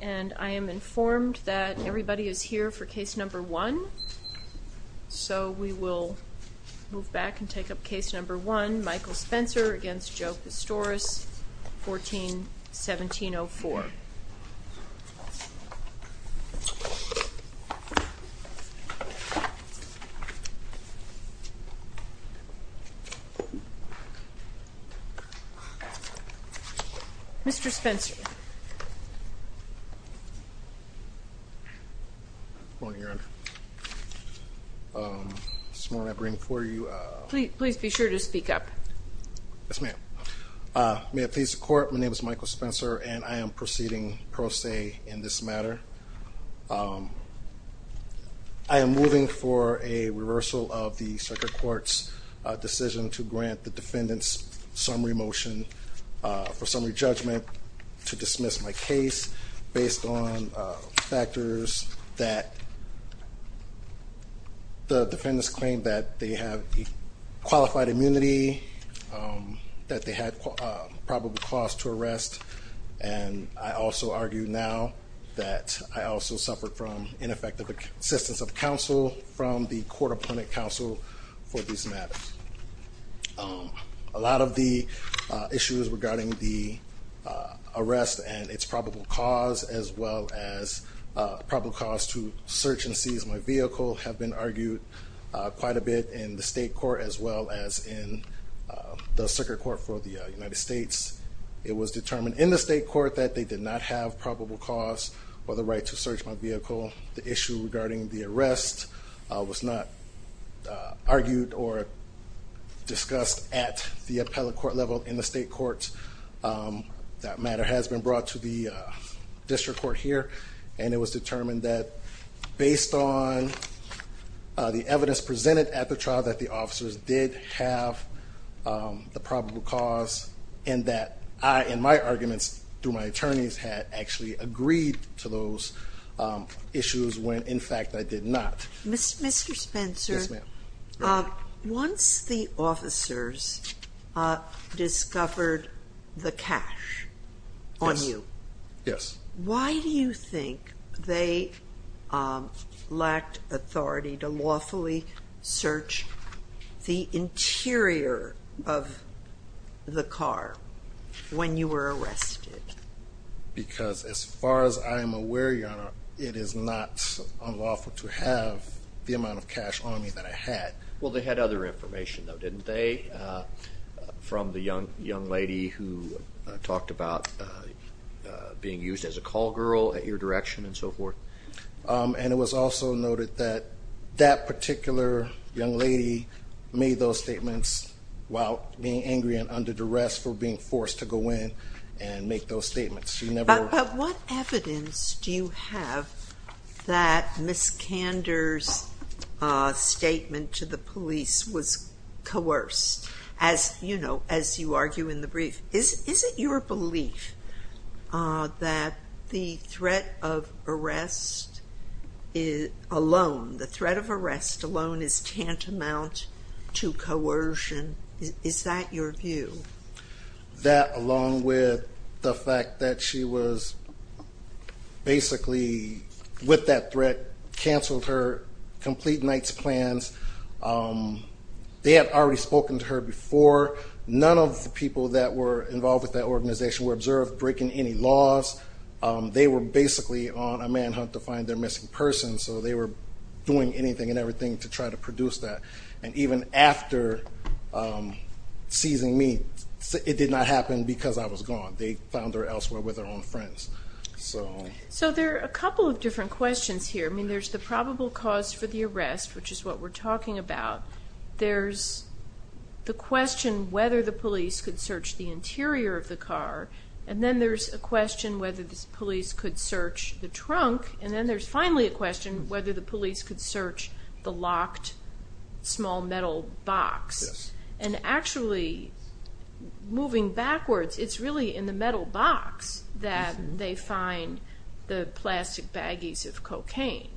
And I am informed that everybody is here for case number one. So we will move back and take up case number one, Michael Spencer v. Joe Pistorius, 14-1704. Mr. Spencer. Good morning, Your Honor. This morning I bring before you... Please be sure to speak up. Yes, ma'am. May it please the Court, my name is Michael Spencer and I am proceeding pro se in this matter. I am moving for a reversal of the Circuit Court's decision to grant the defendants summary motion for summary judgment to dismiss my case based on factors that the defendants claim that they have qualified immunity, that they had probable cause to arrest, and I also argue now that I also suffered from ineffective assistance of counsel from the court opponent counsel for these matters. A lot of the issues regarding the arrest and its probable cause as well as probable cause to search and seize my vehicle have been argued quite a bit in the State Court as well as in the Circuit Court for the United States. It was determined in the State Court that they did not have probable cause or the right to search my vehicle. The issue regarding the arrest was not argued or discussed at the appellate court level in the State Court. That matter has been brought to the District Court here, and it was determined that based on the evidence presented at the trial that the officers did have the probable cause and that I, in my arguments through my attorneys, had actually agreed to those issues when in fact I did not. Mr. Spencer, once the officers discovered the cash on you, why do you think they lacked authority to lawfully search the interior of the car when you were arrested? Because as far as I am aware, Your Honor, it is not unlawful to have the amount of cash on me that I had. Well, they had other information, though, didn't they, from the young lady who talked about being used as a call girl at your direction and so forth? And it was also noted that that particular young lady made those statements while being angry and under duress for being forced to go in and make those statements. But what evidence do you have that Ms. Kander's statement to the police was coerced? As you know, as you argue in the brief, is it your belief that the threat of arrest alone, the threat of arrest alone is tantamount to coercion? Is that your view? That along with the fact that she was basically, with that threat, canceled her complete night's plans. They had already spoken to her before. None of the people that were involved with that organization were observed breaking any laws. They were basically on a manhunt to find their missing person. So they were doing anything and everything to try to produce that. And even after seizing me, it did not happen because I was gone. They found her elsewhere with her own friends. So there are a couple of different questions here. I mean, there's the probable cause for the arrest, which is what we're talking about. There's the question whether the police could search the interior of the car. And then there's a question whether the police could search the trunk. And then there's finally a question whether the police could search the locked small metal box. And actually, moving backwards, it's really in the metal box that they find the plastic baggies of cocaine.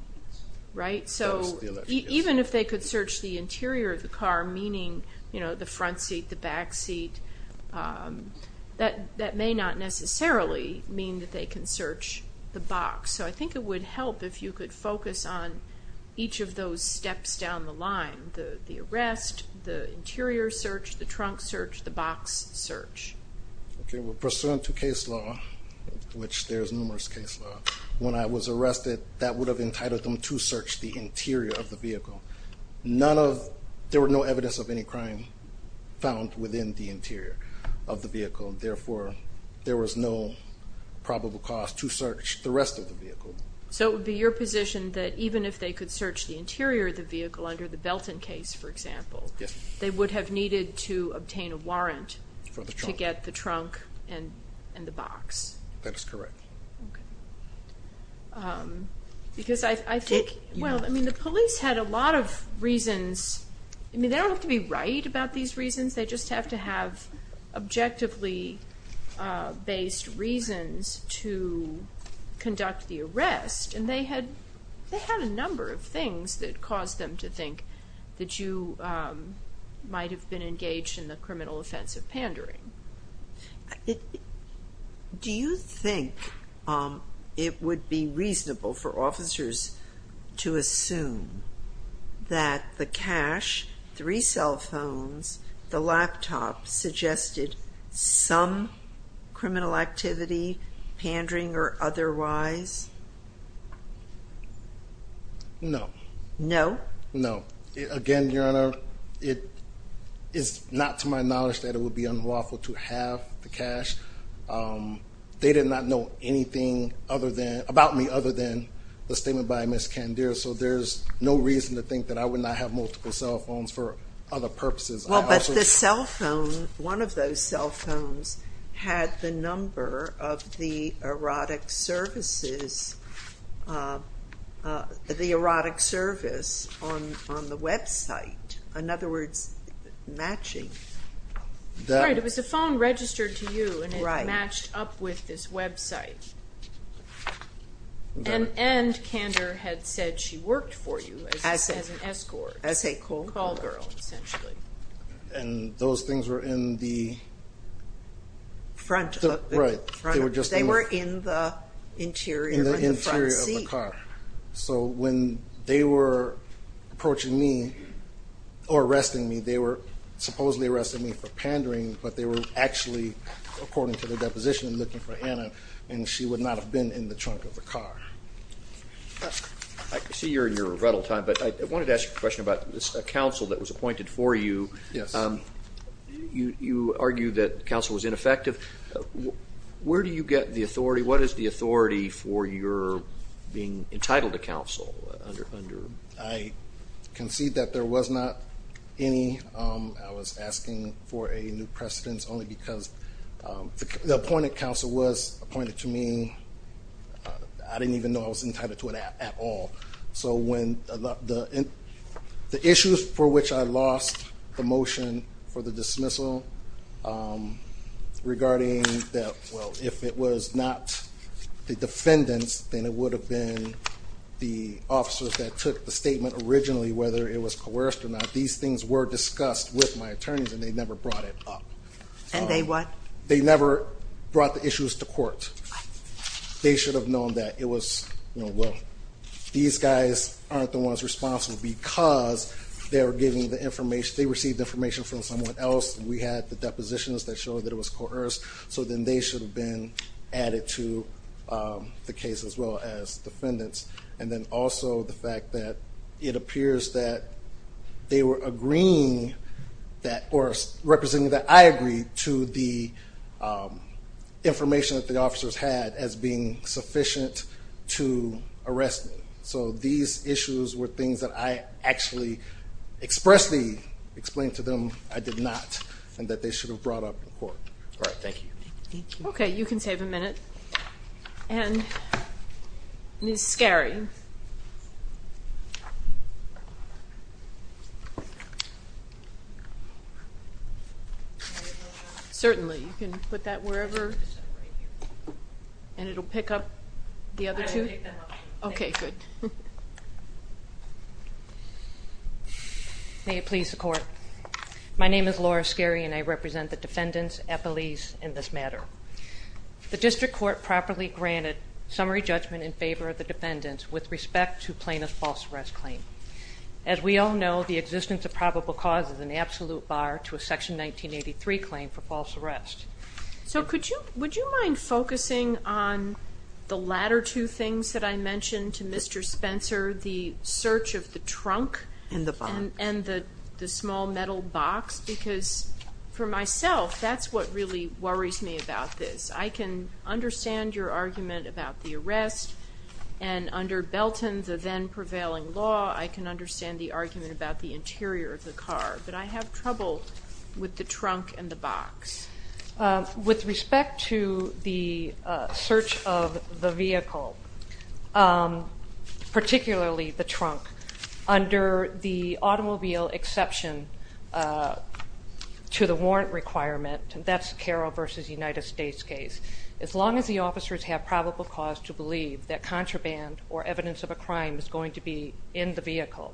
So even if they could search the interior of the car, meaning the front seat, the back seat, that may not necessarily mean that they can search the box. So I think it would help if you could focus on each of those steps down the line, the arrest, the interior search, the trunk search, the box search. Okay, well, pursuant to case law, which there's numerous case law, when I was arrested, that would have entitled them to search the interior of the vehicle. There were no evidence of any crime found within the interior of the vehicle. Therefore, there was no probable cause to search the rest of the vehicle. So it would be your position that even if they could search the interior of the vehicle under the Belton case, for example, they would have needed to obtain a warrant to get the trunk and the box? That is correct. Because I think, well, I mean, the police had a lot of reasons. I mean, they don't have to be right about these reasons. They just have to have objectively based reasons to conduct the arrest. And they had a number of things that caused them to think that you might have been engaged in the criminal offense of pandering. Do you think it would be reasonable for officers to assume that the cash, three cell phones, the laptop suggested some criminal activity, pandering or otherwise? No. No? No. Again, Your Honor, it is not to my knowledge that it would be unlawful to have the cash. They did not know anything about me other than the statement by Ms. Candir. So there's no reason to think that I would not have multiple cell phones for other purposes. Well, but the cell phone, one of those cell phones had the number of the erotic services, the erotic service on the website, in other words, matching. Right. It was a phone registered to you and it matched up with this website. And Candir had said she worked for you as an escort. As a call girl, essentially. And those things were in the front of the car. They were in the interior of the car. So when they were approaching me or arresting me, they were supposedly arresting me for pandering, but they were actually, according to the deposition, looking for Anna, and she would not have been in the trunk of the car. I see you're in your rebuttal time, but I wanted to ask you a question about a counsel that was appointed for you. Yes. You argue that counsel was ineffective. Where do you get the authority? What is the authority for your being entitled to counsel? I concede that there was not any. I was asking for a new precedence only because the appointed counsel was appointed to me. I didn't even know I was entitled to it at all. So when the issues for which I lost the motion for the dismissal regarding that, well, if it was not the defendants, then it would have been the officers that took the statement originally, whether it was coerced or not. These things were discussed with my attorneys, and they never brought it up. And they what? They never brought the issues to court. They should have known that it was, you know, well, these guys aren't the ones responsible because they received information from someone else. We had the depositions that showed that it was coerced, so then they should have been added to the case as well as defendants. And then also the fact that it appears that they were agreeing that or representing that I agreed to the information that the officers had as being sufficient to arrest me. So these issues were things that I actually expressly explained to them I did not and that they should have brought up in court. All right. Thank you. Okay. You can save a minute. And Ms. Skerry. Certainly, you can put that wherever and it'll pick up the other two. Okay, good. May it please the court. My name is Laura Skerry, and I represent the defendants at police in this matter. The district court properly granted summary judgment in favor of the defendants with respect to plaintiff's false arrest claim. As we all know, the existence of probable cause is an absolute bar to a Section 1983 claim for false arrest. So would you mind focusing on the latter two things that I mentioned to Mr. Spencer, the search of the trunk and the small metal box? Because for myself, that's what really worries me about this. I can understand your argument about the arrest. And under Belton, the then prevailing law, I can understand the argument about the interior of the car. But I have trouble with the trunk and the box. With respect to the search of the vehicle, particularly the trunk, under the automobile exception to the warrant requirement, that's Carroll v. United States case, as long as the officers have probable cause to believe that contraband or evidence of a crime is going to be in the vehicle,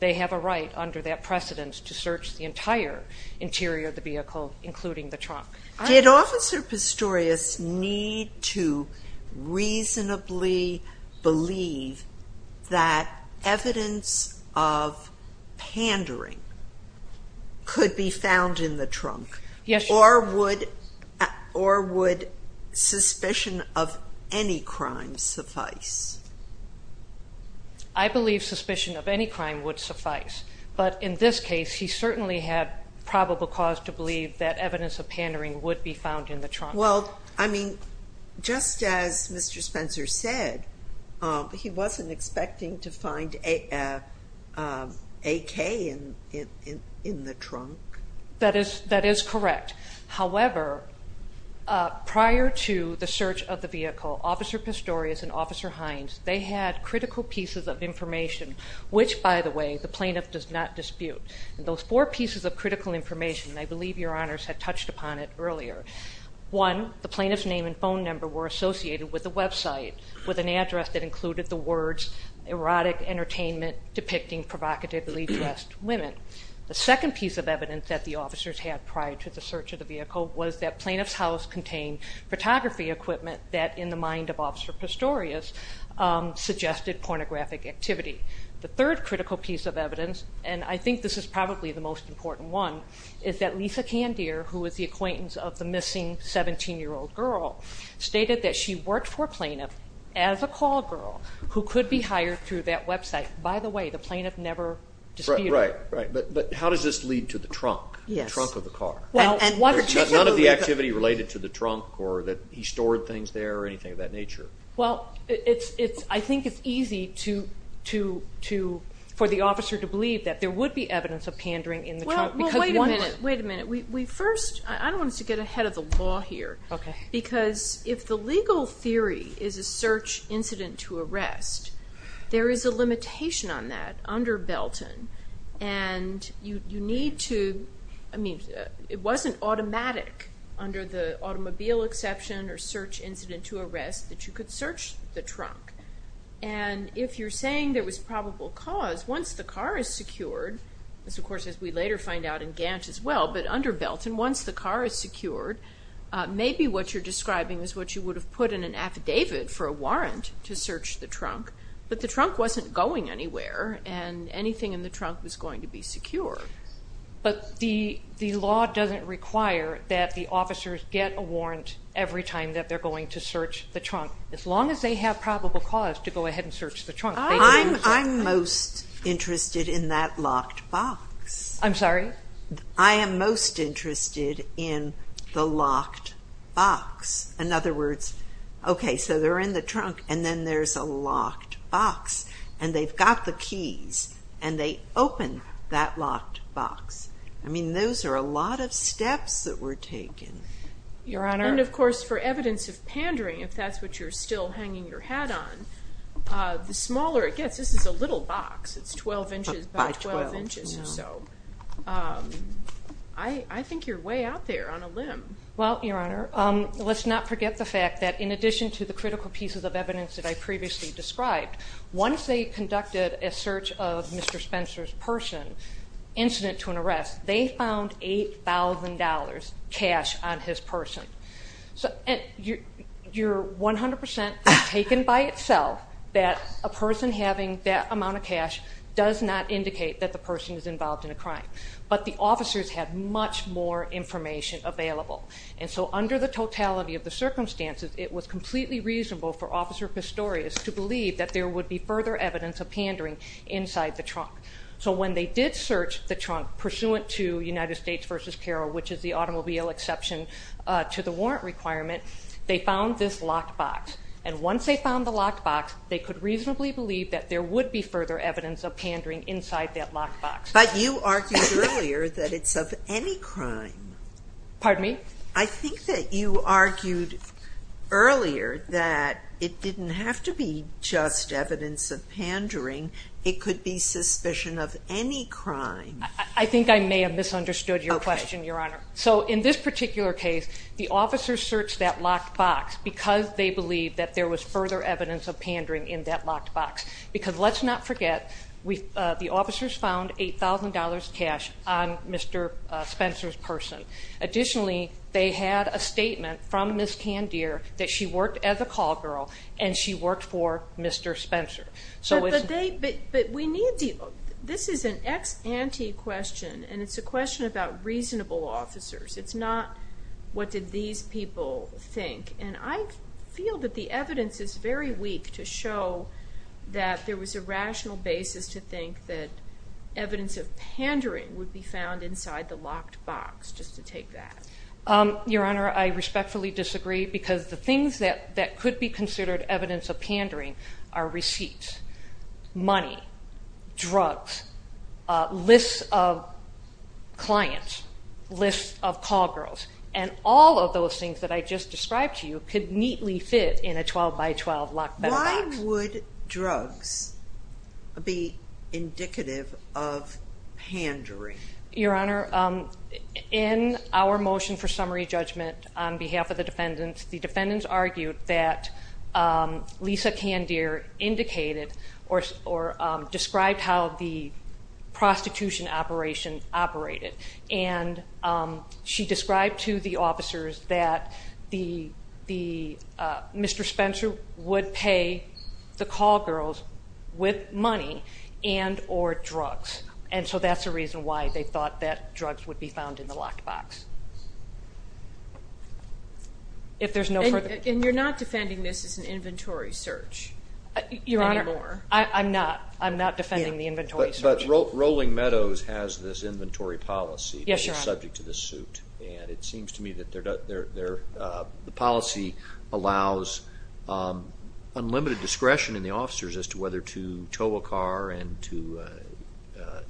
they have a right under that precedent to search the entire interior of the vehicle, including the trunk. Did Officer Pistorius need to reasonably believe that evidence of pandering could be found in the trunk? Yes, Your Honor. Or would suspicion of any crime suffice? I believe suspicion of any crime would suffice. But in this case, he certainly had probable cause to believe that evidence of pandering would be found in the trunk. Well, I mean, just as Mr. Spencer said, he wasn't expecting to find AK in the trunk. That is correct. However, prior to the search of the vehicle, Officer Pistorius and Officer Hines, they had critical pieces of information, which, by the way, the plaintiff does not dispute. And those four pieces of critical information, I believe Your Honors had touched upon it earlier. One, the plaintiff's name and phone number were associated with the website, with an address that included the words, erotic entertainment depicting provocatively dressed women. The second piece of evidence that the officers had prior to the search of the vehicle was that plaintiff's house contained photography equipment that, in the mind of Officer Pistorius, suggested pornographic activity. The third critical piece of evidence, and I think this is probably the most important one, is that Lisa Candier, who is the acquaintance of the missing 17-year-old girl, stated that she worked for a plaintiff as a call girl who could be hired through that website. By the way, the plaintiff never disputed. Right, but how does this lead to the trunk, the trunk of the car? None of the activity related to the trunk or that he stored things there or anything of that nature? Well, I think it's easy for the officer to believe that there would be evidence of pandering in the trunk. Wait a minute, wait a minute. First, I want us to get ahead of the law here. Okay. Because if the legal theory is a search incident to arrest, there is a limitation on that under Belton, and you need to, I mean, it wasn't automatic under the automobile exception or search incident to arrest that you could search the trunk. And if you're saying there was probable cause, once the car is secured, this, of course, as we later find out in Gantt as well, but under Belton, once the car is secured, maybe what you're describing is what you would have put in an affidavit for a warrant to search the trunk, but the trunk wasn't going anywhere, and anything in the trunk was going to be secure. But the law doesn't require that the officers get a warrant every time that they're going to search the trunk, as long as they have probable cause to go ahead and search the trunk. I'm most interested in that locked box. I'm sorry? I am most interested in the locked box. In other words, okay, so they're in the trunk, and then there's a locked box, and they've got the keys, and they open that locked box. I mean, those are a lot of steps that were taken. Your Honor. And, of course, for evidence of pandering, if that's what you're still hanging your hat on, the smaller it gets. This is a little box. It's 12 inches by 12 inches or so. I think you're way out there on a limb. Well, Your Honor, let's not forget the fact that in addition to the critical pieces of evidence that I previously described, once they conducted a search of Mr. Spencer's person, incident to an arrest, they found $8,000 cash on his person. You're 100% taken by itself that a person having that amount of cash does not indicate that the person is involved in a crime. But the officers had much more information available. And so under the totality of the circumstances, it was completely reasonable for Officer Pistorius to believe that there would be further evidence of pandering inside the trunk. So when they did search the trunk pursuant to United States v. Carroll, which is the automobile exception to the warrant requirement, they found this locked box. And once they found the locked box, they could reasonably believe that there would be further evidence of pandering inside that locked box. But you argued earlier that it's of any crime. Pardon me? I think that you argued earlier that it didn't have to be just evidence of pandering. It could be suspicion of any crime. I think I may have misunderstood your question, Your Honor. So in this particular case, the officers searched that locked box because they believed that there was further evidence of pandering in that locked box. Because let's not forget, the officers found $8,000 cash on Mr. Spencer's person. Additionally, they had a statement from Ms. Candier that she worked as a call girl and she worked for Mr. Spencer. But this is an ex ante question, and it's a question about reasonable officers. It's not what did these people think. And I feel that the evidence is very weak to show that there was a rational basis to think that evidence of pandering would be found inside the locked box, just to take that. Your Honor, I respectfully disagree because the things that could be considered evidence of pandering are receipts, money, drugs, lists of clients, lists of call girls. And all of those things that I just described to you could neatly fit in a 12 by 12 locked box. Why would drugs be indicative of pandering? Your Honor, in our motion for summary judgment on behalf of the defendants, the defendants argued that Lisa Candier indicated or described how the prostitution operation operated. And she described to the officers that Mr. Spencer would pay the call girls with money and or drugs. And so that's the reason why they thought that drugs would be found in the locked box. And you're not defending this as an inventory search anymore? Your Honor, I'm not. I'm not defending the inventory search. But Rolling Meadows has this inventory policy. Yes, Your Honor. And it seems to me that the policy allows unlimited discretion in the officers as to whether to tow a car and to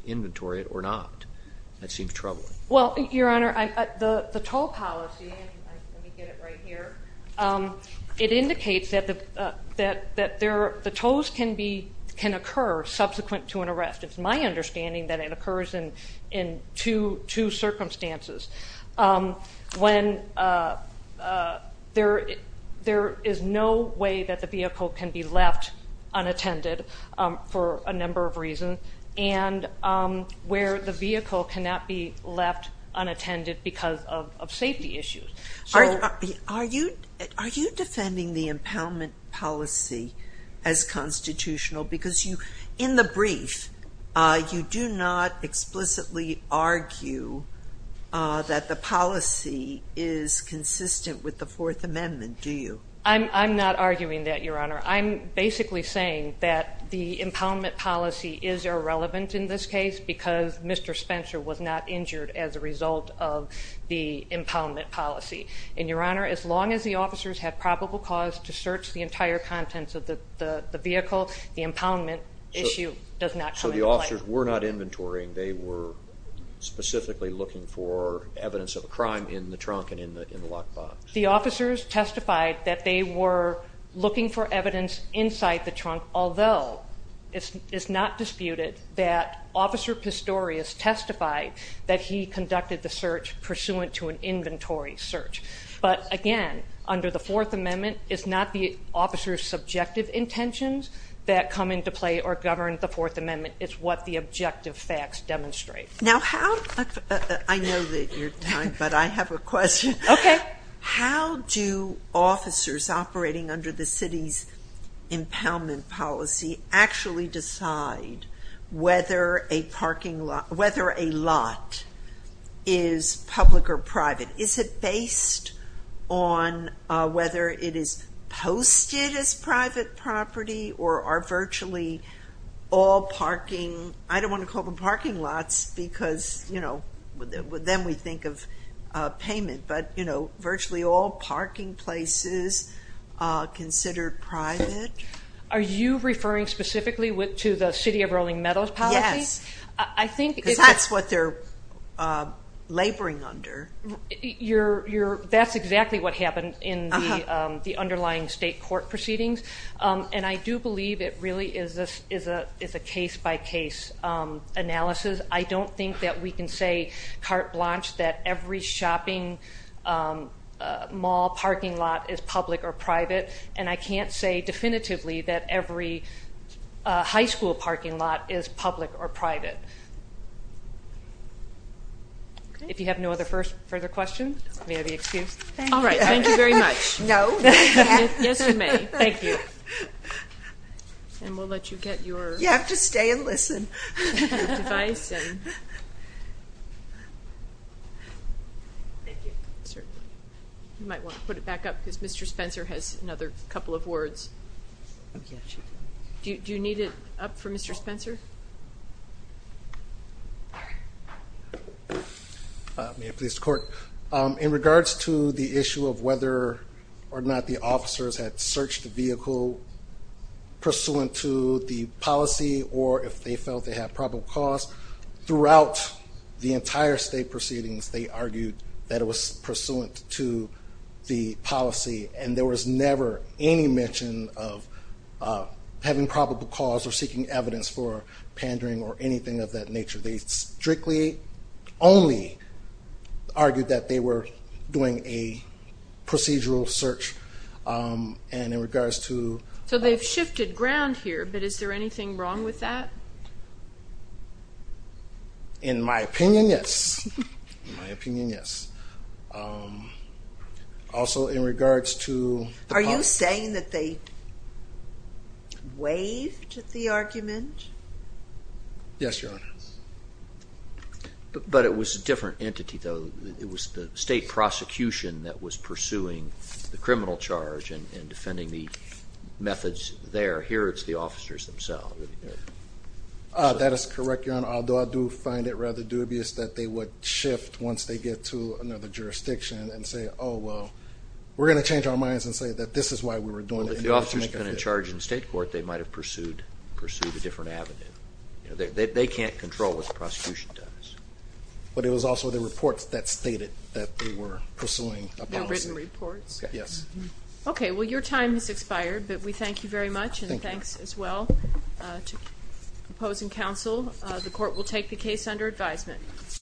inventory it or not. That seems troubling. Well, Your Honor, the tow policy, let me get it right here, it indicates that the tows can occur subsequent to an arrest. It's my understanding that it occurs in two circumstances, when there is no way that the vehicle can be left unattended for a number of reasons and where the vehicle cannot be left unattended because of safety issues. Are you defending the impoundment policy as constitutional? Because in the brief, you do not explicitly argue that the policy is consistent with the Fourth Amendment, do you? I'm not arguing that, Your Honor. I'm basically saying that the impoundment policy is irrelevant in this case because Mr. Spencer was not injured as a result of the impoundment policy. And, Your Honor, as long as the officers have probable cause to search the entire contents of the vehicle, the impoundment issue does not come into play. So the officers were not inventorying. They were specifically looking for evidence of a crime in the trunk and in the lockbox. The officers testified that they were looking for evidence inside the trunk, although it's not disputed that Officer Pistorius testified that he conducted the search pursuant to an inventory search. But, again, under the Fourth Amendment, it's not the officer's subjective intentions that come into play or govern the Fourth Amendment. It's what the objective facts demonstrate. I know that you're done, but I have a question. Okay. How do officers operating under the city's impoundment policy actually decide whether a parking lot – whether a lot is public or private? Is it based on whether it is posted as private property or are virtually all parking – I don't want to call them parking lots because, you know, then we think of payment. But, you know, virtually all parking places are considered private. Are you referring specifically to the City of Rolling Meadows policy? Yes. Because that's what they're laboring under. That's exactly what happened in the underlying state court proceedings. And I do believe it really is a case-by-case analysis. I don't think that we can say carte blanche that every shopping mall parking lot is public or private. And I can't say definitively that every high school parking lot is public or private. If you have no other further questions, may I be excused? All right. Thank you very much. No. Yes, you may. Thank you. And we'll let you get your – You have to stay and listen. Device. Thank you. Certainly. You might want to put it back up because Mr. Spencer has another couple of words. Do you need it up for Mr. Spencer? May it please the Court. In regards to the issue of whether or not the officers had searched the vehicle pursuant to the policy or if they felt they had probable cause, throughout the entire state proceedings, they argued that it was pursuant to the policy, and there was never any mention of having probable cause or seeking evidence for pandering or anything of that nature. They strictly only argued that they were doing a procedural search. And in regards to – So they've shifted ground here, but is there anything wrong with that? In my opinion, yes. In my opinion, yes. Also, in regards to – Are you saying that they waived the argument? Yes, Your Honor. But it was a different entity, though. It was the state prosecution that was pursuing the criminal charge and defending the methods there. Here it's the officers themselves. That is correct, Your Honor, although I do find it rather dubious that they would shift once they get to another jurisdiction and say, oh, well, we're going to change our minds and say that this is why we were doing it. If the officers had been in charge in state court, they might have pursued a different avenue. They can't control what the prosecution does. But it was also the reports that stated that they were pursuing a policy. The written reports? Yes. Okay. Well, your time has expired, but we thank you very much. Thank you. And thanks as well to opposing counsel. The court will take the case under advisement.